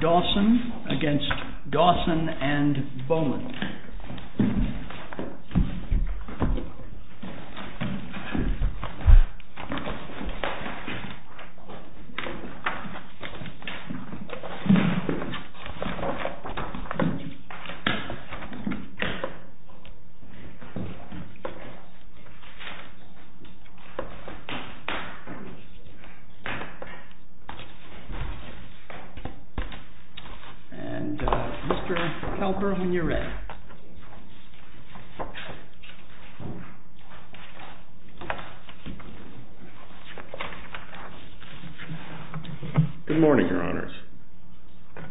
DAWSON v. DAWSON AND BOWMAN DAWSON v. DAWSON and Mr. Kalper when you're ready. Good morning, your honors.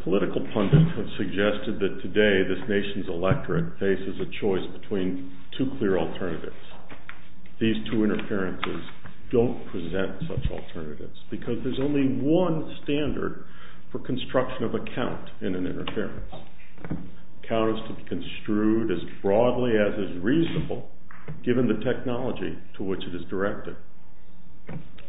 Political pundits have suggested that today this nation's electorate faces a choice between two clear alternatives. These two interferences don't present such alternatives because there's only one standard for construction of a count in an interference. The count is to be construed as broadly as is reasonable given the technology to which it is directed.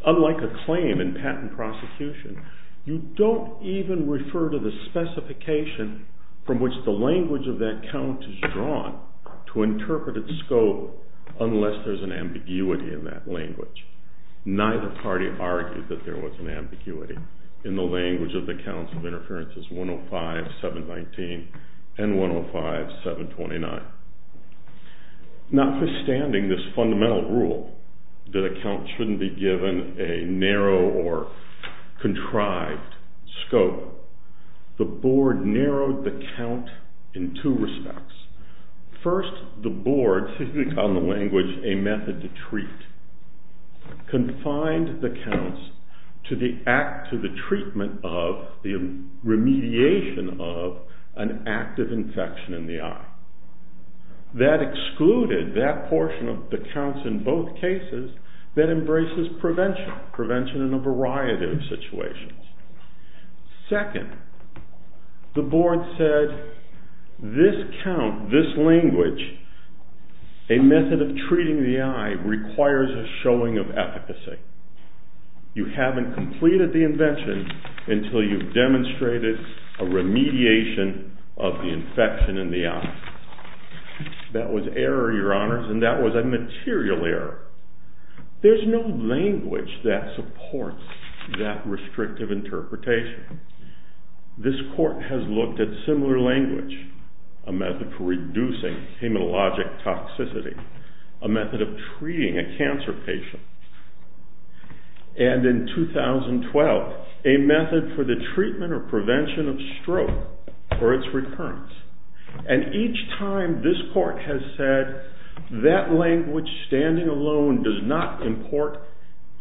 Unlike a claim in patent prosecution, you don't even refer to the specification from which the language of that count is drawn to interpret its scope unless there's an ambiguity in that language. Neither party argued that there was an ambiguity in the language of the counts of interferences 105-719 and 105-729. Notwithstanding this fundamental rule that a count shouldn't be given a narrow or contrived scope, the board narrowed the count in two respects. First, the board, on the language a method to treat, confined the counts to the treatment of the remediation of an active infection in the eye. That excluded that portion of the counts in both cases that embraces prevention, prevention in a variety of situations. Second, the board said this count, this language, a method of treating the eye requires a showing of efficacy. You haven't completed the invention until you've demonstrated a remediation of the infection in the eye. That was error, your honors, and that was a material error. There's no language that supports that restrictive interpretation. This court has looked at similar language, a method for reducing hematologic toxicity, a method of treating a cancer patient, and in 2012, a method for the treatment or prevention of stroke or its recurrence. And each time this court has said that language standing alone does not import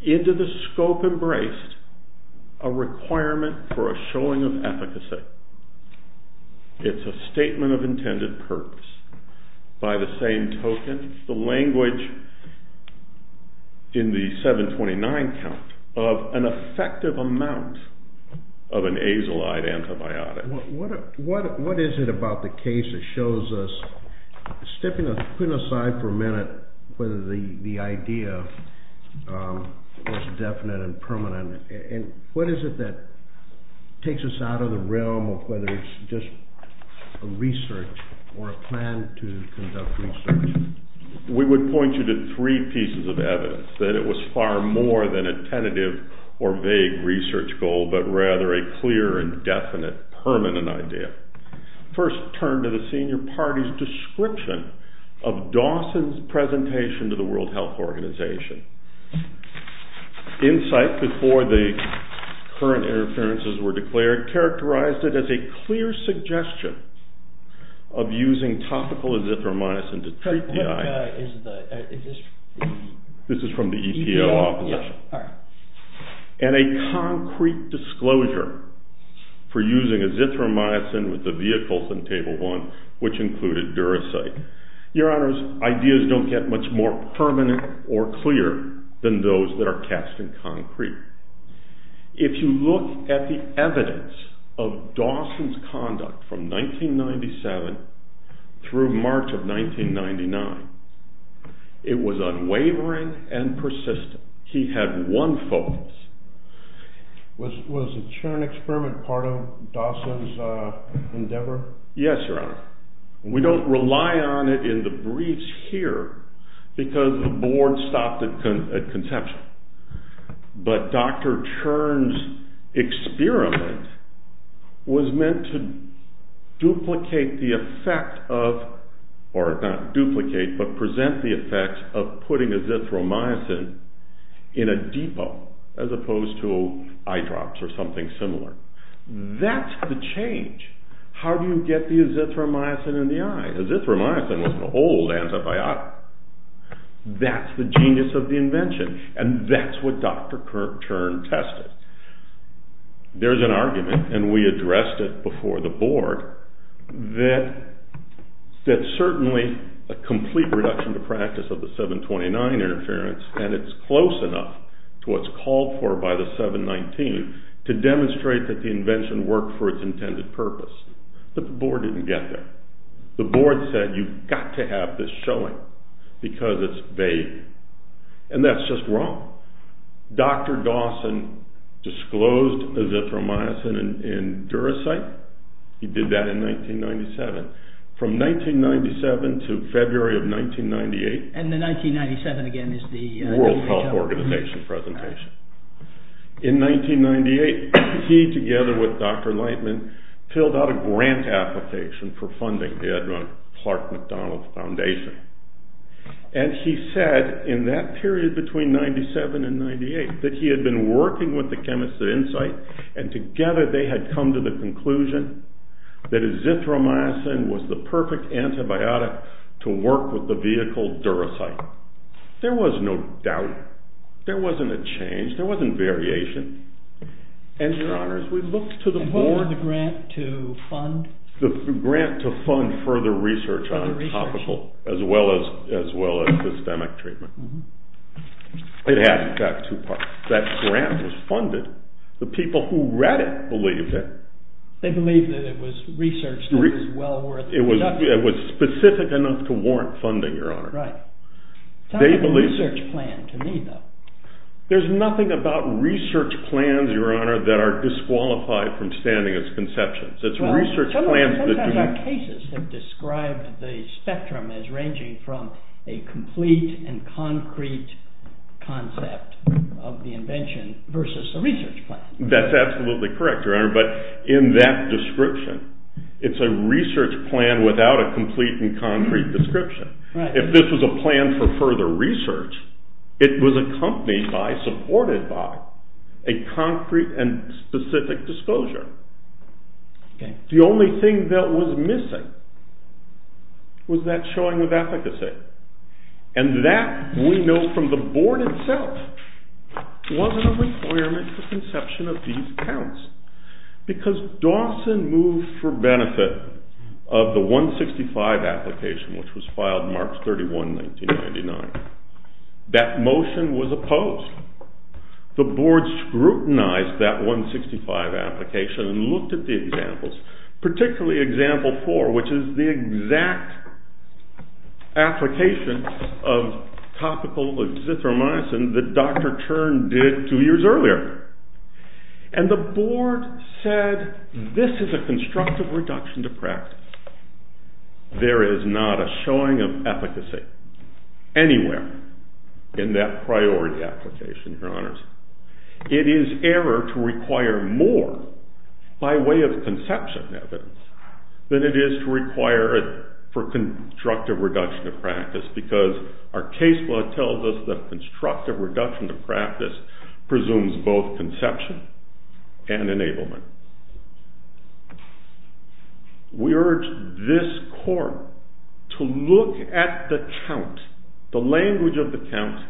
into the scope embraced a requirement for a showing of efficacy. It's a statement of intended purpose. By the same token, the language in the 729 count of an effective amount of an azolite antibiotic. What is it about the case that shows us, putting aside for a minute whether the idea was definite and permanent, and what is it that takes us out of the realm of whether it's just a research or a plan to conduct research? We would point you to three pieces of evidence that it was far more than a tentative or vague research goal, but rather a clear and definite permanent idea. First, turn to the senior party's description of Dawson's presentation to the World Health Organization. Insight, before the current interferences were declared, characterized it as a clear suggestion of using topical azithromycin to treat the eye. This is from the EPO opposition. And a concrete disclosure for using azithromycin with the vehicles in Table 1, which included Duracite. Your Honors, ideas don't get much more permanent or clear than those that are cast in concrete. If you look at the evidence of Dawson's conduct from 1997 through March of 1999, it was unwavering and persistent. He had one focus. Was the churn experiment part of Dawson's endeavor? Yes, Your Honor. We don't rely on it in the briefs here because the board stopped at conception. But Dr. Churn's experiment was meant to duplicate the effect of, or not duplicate, but present the effect of putting azithromycin in a depot as opposed to eye drops or something similar. That's the change. How do you get the azithromycin in the eye? Azithromycin was an old antibiotic. That's the genius of the invention. And that's what Dr. Churn tested. There's an argument, and we addressed it before the board, that certainly a complete reduction to practice of the 729 interference, and it's close enough to what's called for by the 719, to demonstrate that the invention worked for its intended purpose. But the board didn't get there. The board said, you've got to have this showing because it's vague. And that's just wrong. Dr. Dawson disclosed azithromycin in Duracite. He did that in 1997. From 1997 to February of 1998. And the 1997 again is the World Health Organization presentation. In 1998, he, together with Dr. Lightman, filled out a grant application for funding the Edmund Clark McDonald Foundation. And he said, in that period between 1997 and 1998, that he had been working with the chemists at Insight, and together they had come to the conclusion that azithromycin was the perfect antibiotic to work with the vehicle Duracite. There was no doubt. There wasn't a change. There wasn't variation. And your honors, we looked to the board. And bore the grant to fund? The grant to fund further research on topical, as well as systemic treatment. It had, in fact, two parts. That grant was funded. The people who read it believed it. They believed that it was research that was well worth conducting. It was specific enough to warrant funding, your honors. Right. It's not a research plan to me, though. There's nothing about research plans, your honor, that are disqualified from standing as conceptions. Sometimes our cases have described the spectrum as ranging from a complete and concrete concept of the invention versus a research plan. That's absolutely correct, your honor. But in that description, it's a research plan without a complete and concrete description. If this was a plan for further research, it was accompanied by, supported by, a concrete and specific disclosure. The only thing that was missing was that showing of efficacy. And that, we know from the board itself, wasn't a requirement for conception of these accounts. Because Dawson moved for benefit of the 165 application, which was filed March 31, 1999. That motion was opposed. The board scrutinized that 165 application and looked at the examples, particularly example four, which is the exact application of topical exithromycin that Dr. Chern did two years earlier. And the board said, this is a constructive reduction to practice. There is not a showing of efficacy anywhere in that priority application, your honors. It is error to require more by way of conception evidence than it is to require for constructive reduction of practice. Because our case law tells us that constructive reduction to practice presumes both conception and enablement. We urge this court to look at the count, the language of the count,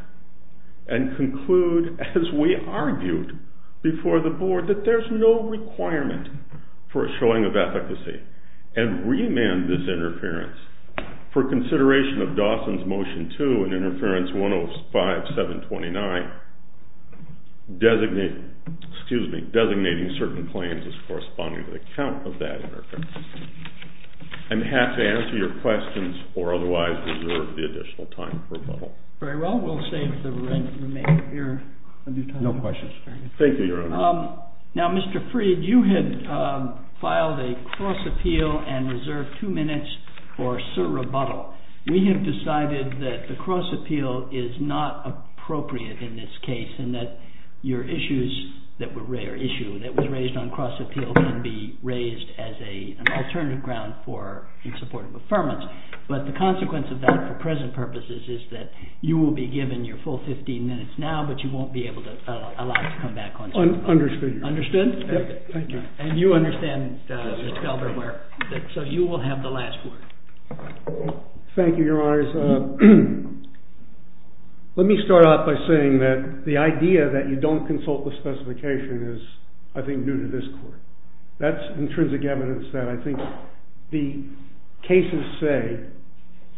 and conclude, as we argued before the board, that there's no requirement for a showing of efficacy. And re-amend this interference for consideration of Dawson's Motion 2 in Interference 105-729, designating certain claims as corresponding to the count of that interference. And have to answer your questions or otherwise reserve the additional time for rebuttal. Very well. We'll save the remainder of your time. No questions. Thank you, your honors. Now, Mr. Freed, you had filed a cross-appeal and reserved two minutes for sir rebuttal. We have decided that the cross-appeal is not appropriate in this case, and that your issue that was raised on cross-appeal can be raised as an alternative ground in support of affirmance. But the consequence of that for present purposes is that you will be given your full 15 minutes now, but you won't be allowed to come back on this call. Understood, your honor. Understood? Very good. Thank you. And you understand, Mr. Elber, so you will have the last word. Thank you, your honors. Let me start off by saying that the idea that you don't consult the specification is, I think, new to this court. That's intrinsic evidence that I think the cases say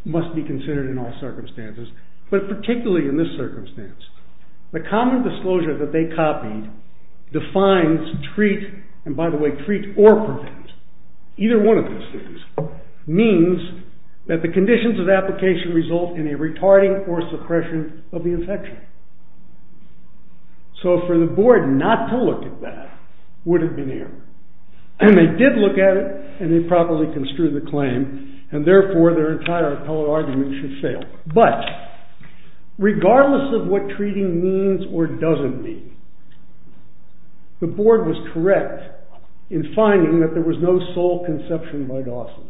must be considered in all circumstances, but particularly in this circumstance. The common disclosure that they copied defines treat, and by the way, treat or prevent, either one of those things, means that the conditions of application result in a retarding or suppression of the infection. So for the board not to look at that would have been error. And they did look at it, and they properly construed the claim, and therefore their entire appellate argument should fail. But regardless of what treating means or doesn't mean, the board was correct in finding that there was no sole conception by Dawson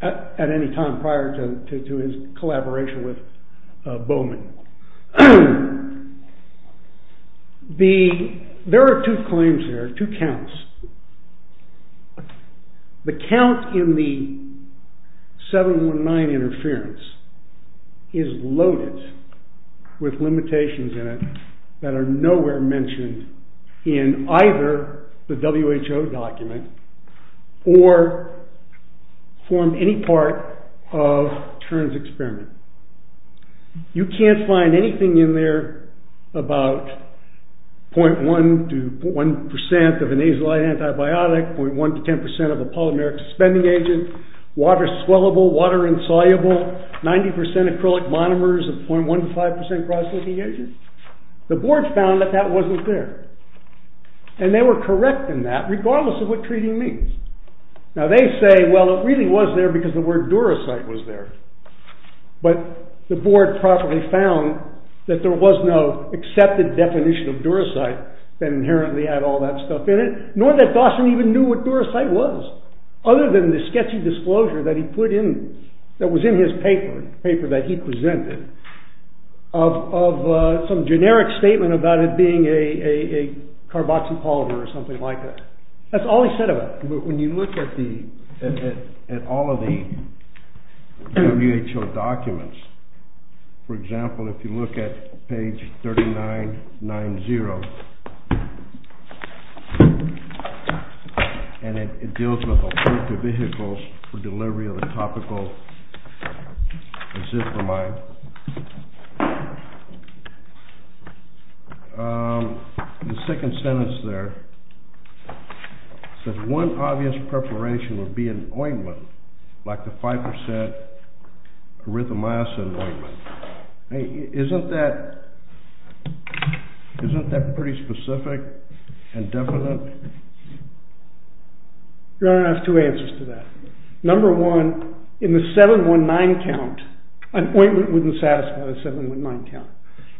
at any time prior to his collaboration with Bowman. There are two claims here, two counts. The count in the 719 interference is loaded with limitations in it that are nowhere mentioned in either the WHO document or formed any part of Tern's experiment. You can't find anything in there about 0.1 to 1% of a nasal antibiotic, 0.1 to 10% of a polymeric suspending agent, water-swellable, water-insoluble, 90% acrylic monomers, and 0.1 to 5% cross-linking agent. The board found that that wasn't there, and they were correct in that, regardless of what treating means. Now they say, well, it really was there because the word duracite was there. But the board properly found that there was no accepted definition of duracite that inherently had all that stuff in it, nor that Dawson even knew what duracite was, other than the sketchy disclosure that he put in, that was in his paper, the paper that he presented, of some generic statement about it being a carboxy-polymer or something like that. That's all he said about it. When you look at all of the WHO documents, for example, if you look at page 3990, and it deals with alternative vehicles for delivery of the topical azithromyme, the second sentence there says one obvious preparation would be an ointment, like the 5% erythromycin ointment. Isn't that pretty specific and definite? Your Honor, I have two answers to that. Number one, in the 719 count, an ointment wouldn't satisfy the 719 count.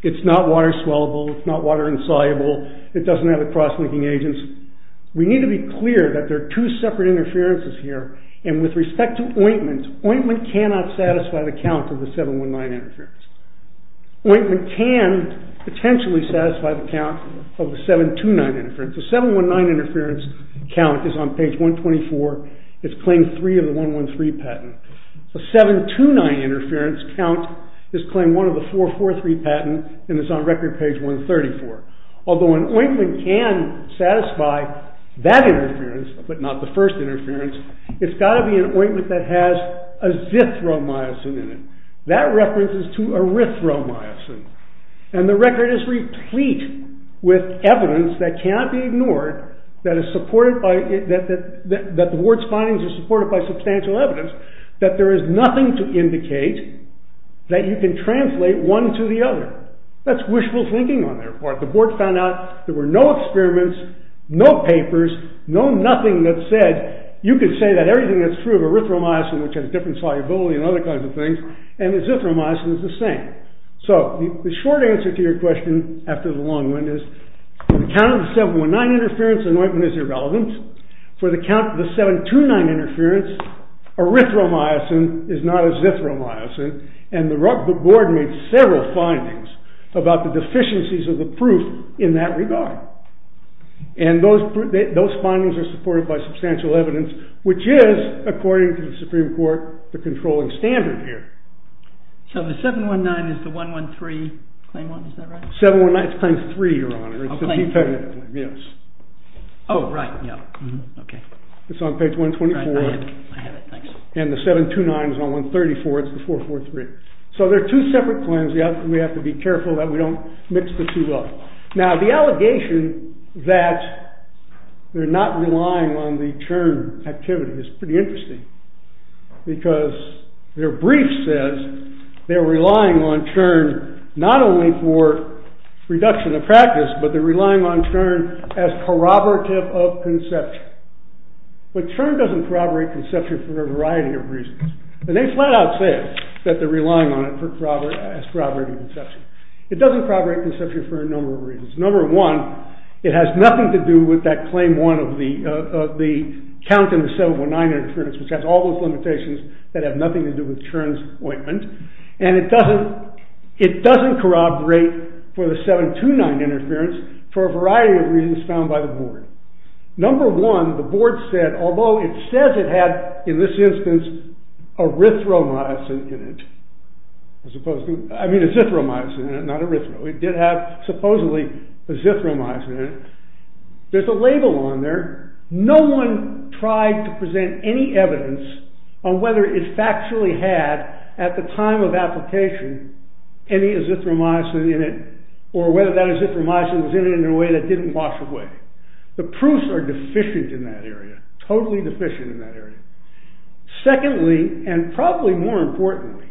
It's not water-swellable, it's not water-insoluble, it doesn't have a cross-linking agent. We need to be clear that there are two separate interferences here, and with respect to ointment, ointment cannot satisfy the count of the 719 interference. Ointment can potentially satisfy the count of the 729 interference. The 719 interference count is on page 124, it's claim 3 of the 113 patent. The 729 interference count is claim 1 of the 443 patent, and it's on record page 134. Although an ointment can satisfy that interference, but not the first interference, it's got to be an ointment that has azithromycin in it. That references to erythromycin. And the record is replete with evidence that cannot be ignored, that the board's findings are supported by substantial evidence, that there is nothing to indicate that you can translate one to the other. That's wishful thinking on their part. The board found out there were no experiments, no papers, no nothing that said you could say that everything that's true of erythromycin, which has different solubility and other kinds of things, and azithromycin is the same. So the short answer to your question after the long one is, for the count of the 719 interference, anointment is irrelevant. For the count of the 729 interference, erythromycin is not azithromycin, and the board made several findings about the deficiencies of the proof in that regard. And those findings are supported by substantial evidence, which is, according to the Supreme Court, the controlling standard here. So the 719 is the 113 claim one, is that right? 719 is claim three, your honor. Oh, claim three. Yes. Oh, right. Okay. It's on page 124. I have it. Thanks. And the 729 is on 134. It's the 443. So they're two separate claims. We have to be careful that we don't mix the two up. Now, the allegation that they're not relying on the churn activity is pretty interesting, because their brief says they're relying on churn not only for reduction of practice, but they're relying on churn as corroborative of conception. But churn doesn't corroborate conception for a variety of reasons. And they flat out say it, that they're relying on it as corroborative of conception. It doesn't corroborate conception for a number of reasons. Number one, it has nothing to do with that claim one of the count which has all those limitations that have nothing to do with churn's ointment. And it doesn't corroborate for the 729 interference for a variety of reasons found by the board. Number one, the board said, although it says it had, in this instance, erythromycin in it, I mean azithromycin in it, not erythro. It did have, supposedly, azithromycin in it. There's a label on there. No one tried to present any evidence on whether it factually had, at the time of application, any azithromycin in it, or whether that azithromycin was in it in a way that didn't wash away. The proofs are deficient in that area, totally deficient in that area. Secondly, and probably more importantly,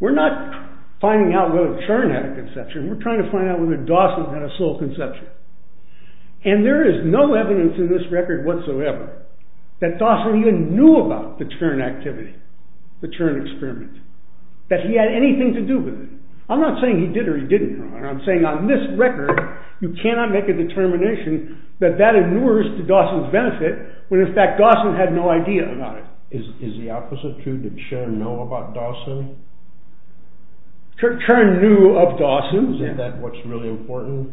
we're not finding out whether churn had a conception, we're trying to find out whether Dawson had a soul conception. And there is no evidence in this record whatsoever that Dawson even knew about the churn activity, the churn experiment, that he had anything to do with it. I'm not saying he did or he didn't know. I'm saying on this record, you cannot make a determination that that inures to Dawson's benefit, when in fact Dawson had no idea about it. Is the opposite true? Did churn know about Dawson? Churn knew of Dawson. Isn't that what's really important?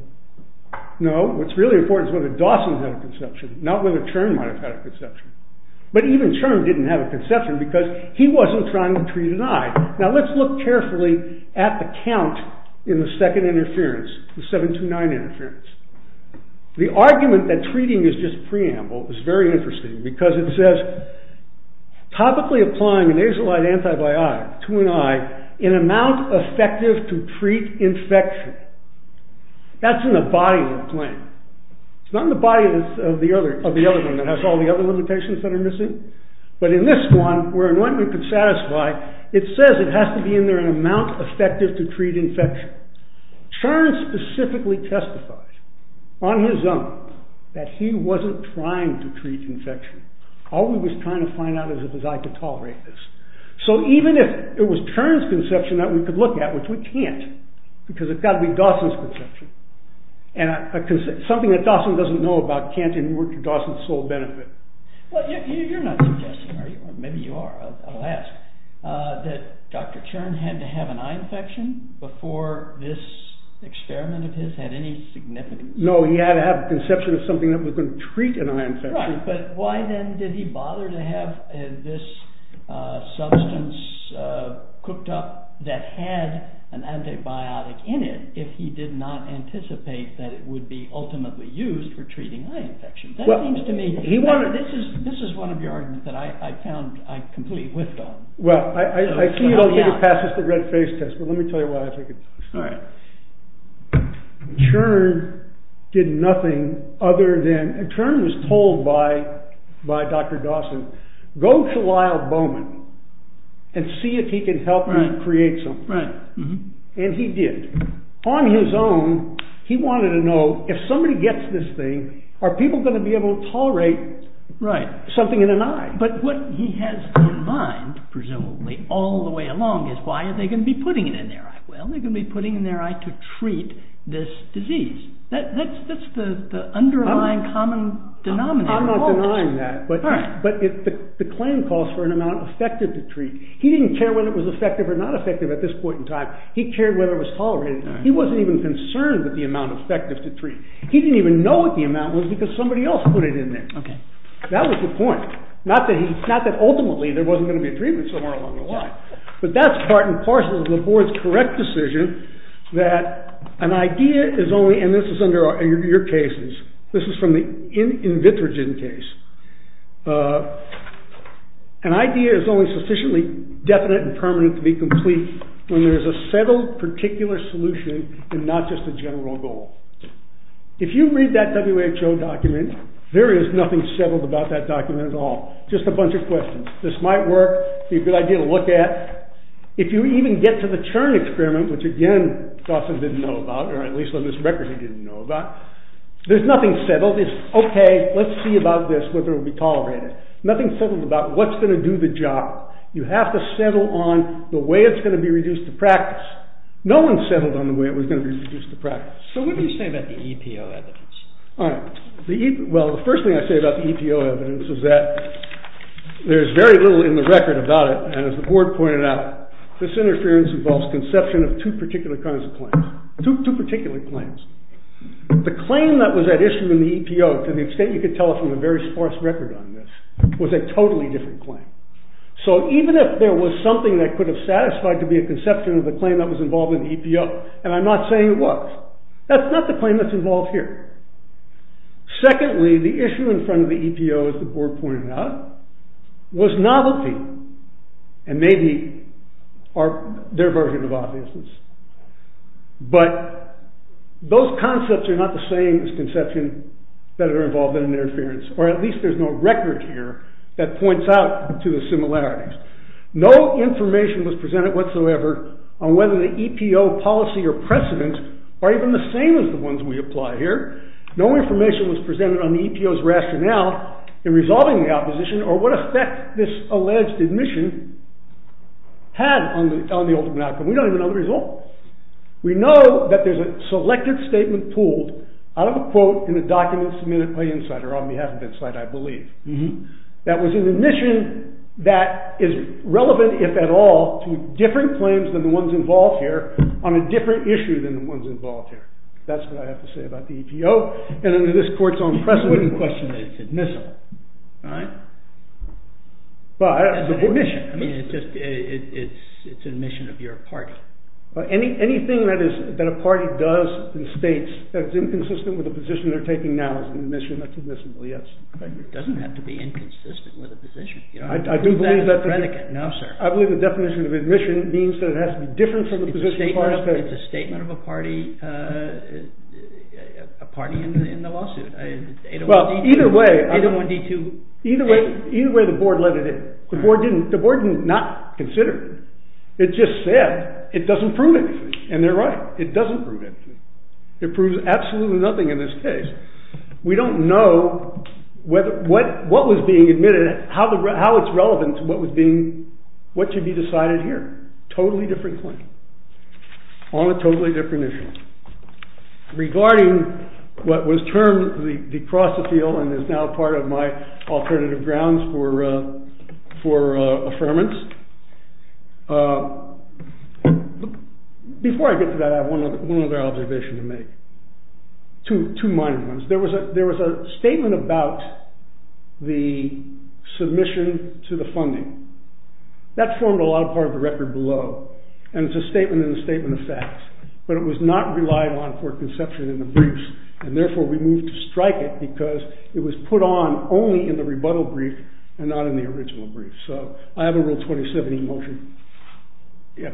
No, what's really important is whether Dawson had a conception, not whether churn might have had a conception. But even churn didn't have a conception because he wasn't trying to treat an eye. Now let's look carefully at the count in the second interference, the 729 interference. The argument that treating is just preamble is very interesting because it says, topically applying a nasolite antibiotic to an eye in amount effective to treat infection. That's in the body of the plant. It's not in the body of the other one that has all the other limitations that are missing. But in this one, where anointment could satisfy, it says it has to be in there in amount effective to treat infection. Churn specifically testified, on his own, that he wasn't trying to treat infection. All he was trying to find out is if his eye could tolerate this. So even if it was Churn's conception that we could look at, which we can't, because it's got to be Dawson's conception. Something that Dawson doesn't know about can't in work to Dawson's sole benefit. You're not suggesting, are you? Maybe you are. I'll ask. That Dr. Churn had to have an eye infection before this experiment of his had any significance? No, he had to have a conception of something that was going to treat an eye infection. But why then did he bother to have this substance cooked up that had an antibiotic in it if he did not anticipate that it would be ultimately used for treating eye infections? This is one of your arguments that I found I completely whiffed on. Well, I see you don't think it passes the red face test, but let me tell you why I think it does. Churn did nothing other than... by Dr. Dawson, go to Lyle Bowman and see if he could help him create something. And he did. On his own, he wanted to know if somebody gets this thing, are people going to be able to tolerate something in an eye? But what he has in mind, presumably, all the way along is why are they going to be putting it in their eye? Well, they're going to be putting it in their eye to treat this disease. That's the underlying common denominator. I'm not denying that. But the claim calls for an amount effective to treat. He didn't care whether it was effective or not effective at this point in time. He cared whether it was tolerated. He wasn't even concerned with the amount effective to treat. He didn't even know what the amount was because somebody else put it in there. That was the point. Not that ultimately there wasn't going to be a treatment somewhere along the line. But that's part and parcel of the board's correct decision that an idea is only... And this is under your cases. This is from the in vitrogen case. An idea is only sufficiently definite and permanent to be complete when there is a settled particular solution and not just a general goal. If you read that WHO document, there is nothing settled about that document at all. Just a bunch of questions. This might work, be a good idea to look at. If you even get to the churn experiment, which again Dawson didn't know about, or at least on this record he didn't know about, there's nothing settled. It's okay, let's see about this, whether it will be tolerated. Nothing settled about what's going to do the job. You have to settle on the way it's going to be reduced to practice. No one settled on the way it was going to be reduced to practice. So what do you say about the EPO evidence? Well, the first thing I say about the EPO evidence is that there's very little in the record about it. And as the board pointed out, this interference involves conception of two particular kinds of claims. Two particular claims. The claim that was at issue in the EPO, to the extent you could tell from the very sparse record on this, was a totally different claim. So even if there was something that could have satisfied to be a conception of the claim that was involved in the EPO, and I'm not saying it was, that's not the claim that's involved here. Secondly, the issue in front of the EPO, as the board pointed out, was novelty. And maybe their version of obviousness. But those concepts are not the same as conception that are involved in interference. Or at least there's no record here that points out to the similarities. No information was presented whatsoever on whether the EPO policy or precedent are even the same as the ones we apply here. No information was presented on the EPO's rationale in resolving the opposition or what effect this alleged admission had on the ultimate outcome. We don't even know the result. We know that there's a selected statement pulled out of a quote in a document submitted by Insider on behalf of Insider, I believe, that was an admission that is relevant, if at all, to different claims than the ones involved here on a different issue than the ones involved here. That's what I have to say about the EPO. And under this court's own precedent question, it's admissible. All right. But it's an admission. It's an admission of your party. Anything that a party does in states that's inconsistent with the position they're taking now is an admission that's admissible, yes. It doesn't have to be inconsistent with a position. I do believe that the definition of admission means that it has to be different from the position of other states. It's a statement of a party in the lawsuit. Well, either way, the board let it in. The board did not consider it. It just said it doesn't prove anything. And they're right. It doesn't prove anything. It proves absolutely nothing in this case. We don't know what was being admitted, how it's relevant to what should be decided here. Totally different claim on a totally different issue. Regarding what was termed the cross-appeal and is now part of my alternative grounds for affirmance, before I get to that, I have one other observation to make. Two minor ones. There was a statement about the submission to the funding. That formed a lot of part of the record below. And it's a statement in the statement of facts. But it was not relied on for conception in the briefs. And therefore, we moved to strike it because it was put on only in the rebuttal brief and not in the original brief. So I have a Rule 2070 motion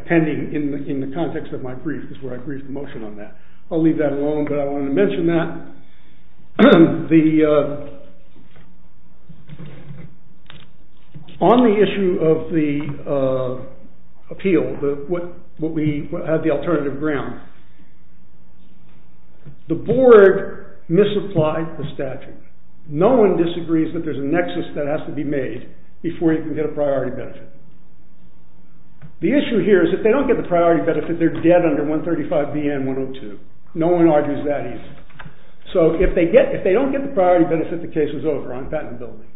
pending in the context of my brief is where I briefed the motion on that. I'll leave that alone, but I wanted to mention that. So on the issue of the appeal, what we have the alternative ground, the board misapplied the statute. No one disagrees that there's a nexus that has to be made before you can get a priority benefit. The issue here is if they don't get the priority benefit, they're dead under 135B and 102. No one argues that either. So if they don't get the priority benefit, the case is over on patentability.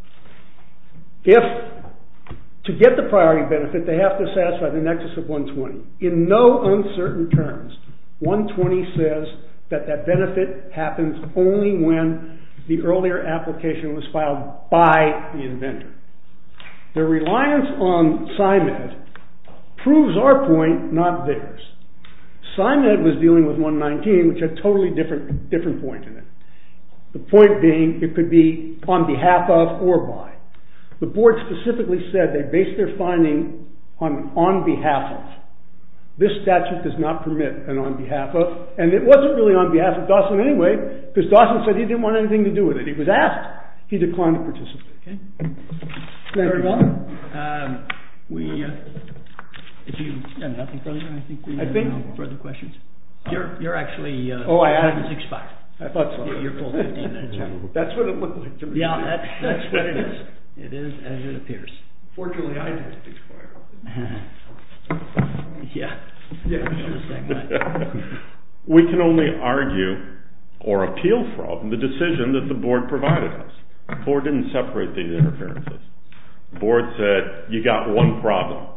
To get the priority benefit, they have to satisfy the nexus of 120. In no uncertain terms, 120 says that that benefit happens only when the earlier application was filed by the inventor. Their reliance on SIMED proves our point, not theirs. SIMED was dealing with 119, which had a totally different point in it. The point being, it could be on behalf of or by. The board specifically said they based their finding on an on behalf of. This statute does not permit an on behalf of. And it wasn't really on behalf of Dawson anyway, because Dawson said he didn't want anything to do with it. He was asked. He declined to participate. Very well. If you have nothing further, I think we have no further questions. You're actually expired. I thought so. That's what it looked like to me. Yeah, that's what it is. It is as it appears. Fortunately, I didn't expire. Yeah. We can only argue or appeal from the decision that the board provided us. The board didn't separate these interferences. The board said, you got one problem.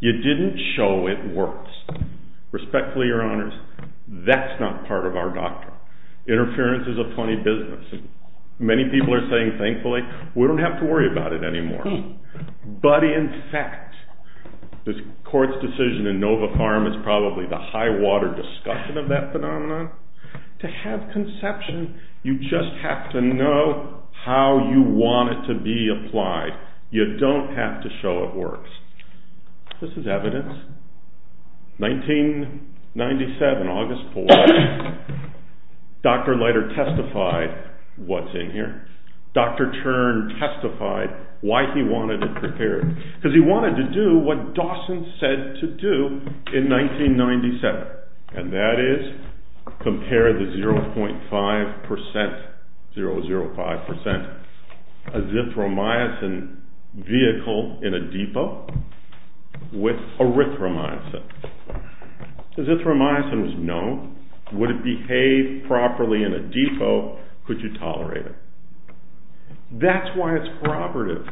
You didn't show it works. Respectfully, your honors, that's not part of our doctrine. Interference is a funny business. Many people are saying, thankfully, we don't have to worry about it anymore. But in fact, this court's decision in Nova Farm is probably the high water discussion of that phenomenon. To have conception, you just have to know how you want it to be applied. You don't have to show it works. This is evidence. 1997, August 4, Dr. Leiter testified what's in here. Dr. Chern testified why he wanted it prepared. Because he wanted to do what Dawson said to do in 1997. And that is compare the 0.5%, 005%, azithromycin vehicle in a depot with erythromycin. Azithromycin was known. Would it behave properly in a depot? Could you tolerate it? That's why it's corroborative.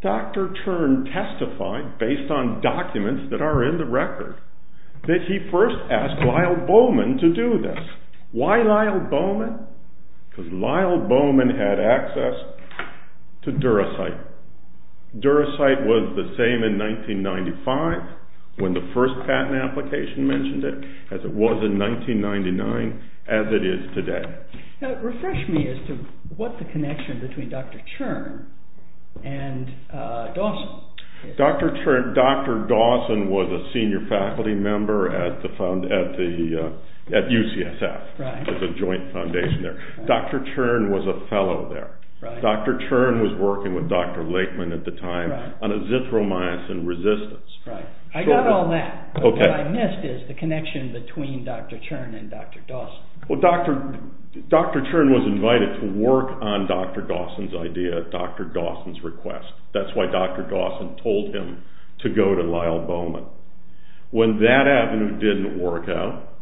Dr. Chern testified, based on documents that are in the record, that he first asked Lyle Bowman to do this. Why Lyle Bowman? Because Lyle Bowman had access to Duracite. Duracite was the same in 1995, when the first patent application mentioned it, as it was in 1999, as it is today. Refresh me as to what the connection between Dr. Chern and Dawson is. Dr. Dawson was a senior faculty member at UCSF, as a joint foundation there. Dr. Chern was a fellow there. Dr. Chern was working with Dr. Lakeman at the time on azithromycin resistance. I got all that. But what I missed is the connection between Dr. Chern and Dr. Dawson. Well, Dr. Chern was invited to work on Dr. Dawson's idea, Dr. Dawson's request. That's why Dr. Dawson told him to go to Lyle Bowman. When that avenue didn't work out,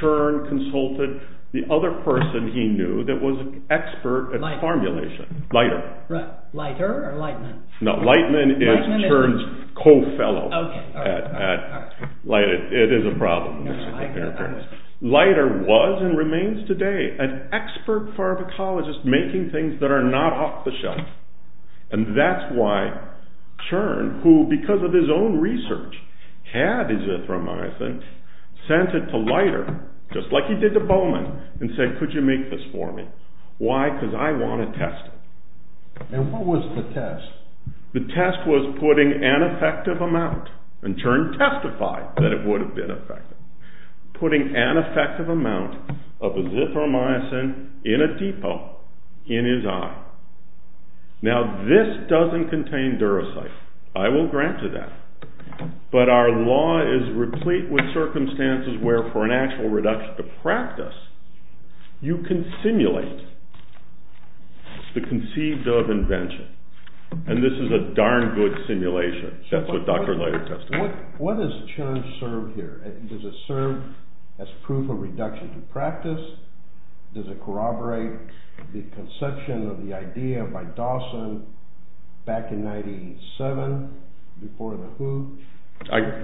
Chern consulted the other person he knew that was an expert at formulation. Leiter. Leiter or Lightman? No, Lightman is Chern's co-fellow at Leiter. It is a problem. Leiter was, and remains today, an expert pharmacologist making things that are not off the shelf. And that's why Chern, who, because of his own research, had azithromycin, sent it to Leiter, just like he did to Bowman, and said, could you make this for me? Why? Because I want to test it. And what was the test? The test was putting an effective amount, and Chern testified that it would have been effective, putting an effective amount of azithromycin in a depot in his eye. Now, this doesn't contain duracyte. I will grant you that. But our law is replete with circumstances where for an actual reduction to practice, you can simulate the conceived of invention. And this is a darn good simulation. That's what Dr. Leiter testified. What does Chern serve here? Does it serve as proof of reduction to practice? Does it corroborate the conception of the idea by Dawson back in 97, before the who?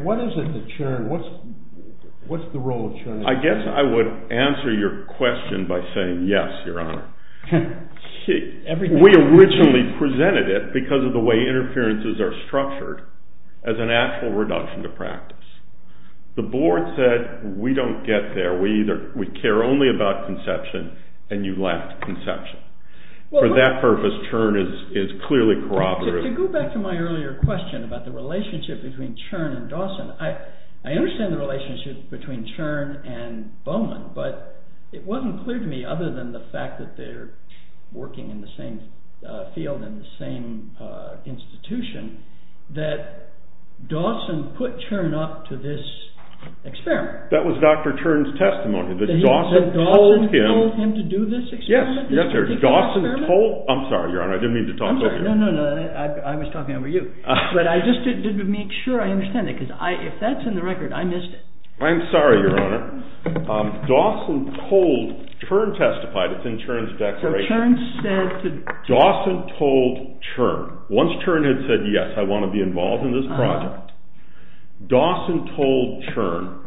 What is it that Chern, what's the role of Chern? I guess I would answer your question by saying yes, Your Honor. We originally presented it, because of the way interferences are structured, as an actual reduction to practice. The board said, we don't get there. We care only about conception, and you lacked conception. For that purpose, Chern is clearly corroborative. To go back to my earlier question about the relationship between Chern and Dawson, I understand the relationship between Chern and Bowman, but it wasn't clear to me, other than the fact that they're working in the same field and the same institution, that Dawson put Chern up to this experiment. That was Dr. Chern's testimony, that Dawson told him... That Dawson told him to do this experiment? Yes, Dawson told... I'm sorry, Your Honor, I didn't mean to talk over you. No, no, no, I was talking over you. But I just didn't make sure I understand it, because if that's in the record, I missed it. I'm sorry, Your Honor. Dawson told... Chern testified, it's in Chern's declaration. So Chern said... Dawson told Chern. Once Chern had said, yes, I want to be involved in this project, Dawson told Chern,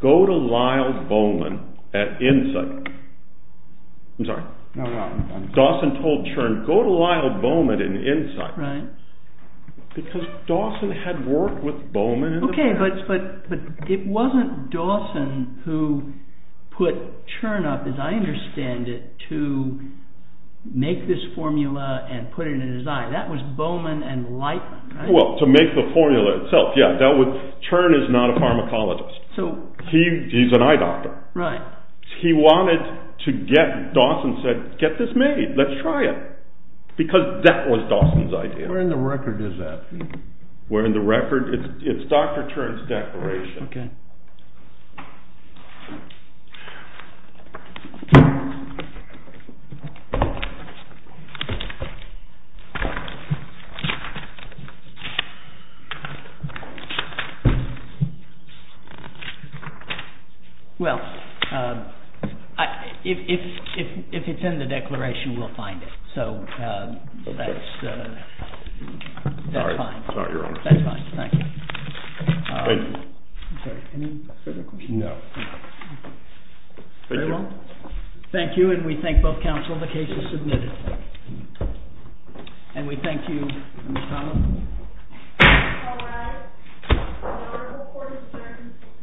go to Lyle Bowman at InSight. I'm sorry. Dawson told Chern, go to Lyle Bowman at InSight. Right. Because Dawson had worked with Bowman in the past. Okay, but it wasn't Dawson who put Chern up, as I understand it, to make this formula and put it in his eye. That was Bowman and Lightman, right? Well, to make the formula itself, yeah. Chern is not a pharmacologist. He's an eye doctor. Right. He wanted to get... Dawson said, get this made. Let's try it. Because that was Dawson's idea. Where in the record is that? Where in the record? It's Dr. Chern's declaration. Okay. Well, if it's in the declaration, we'll find it. So that's fine. Sorry, Your Honor. That's fine. Thank you. Thank you. I'm sorry, any further questions? No. Thank you. Very well. Thank you, and we thank both counsel. The case is submitted. And we thank you, Ms. Connell. Thank you, Your Honor. The order of the court is adjourned until tomorrow morning at 10 o'clock.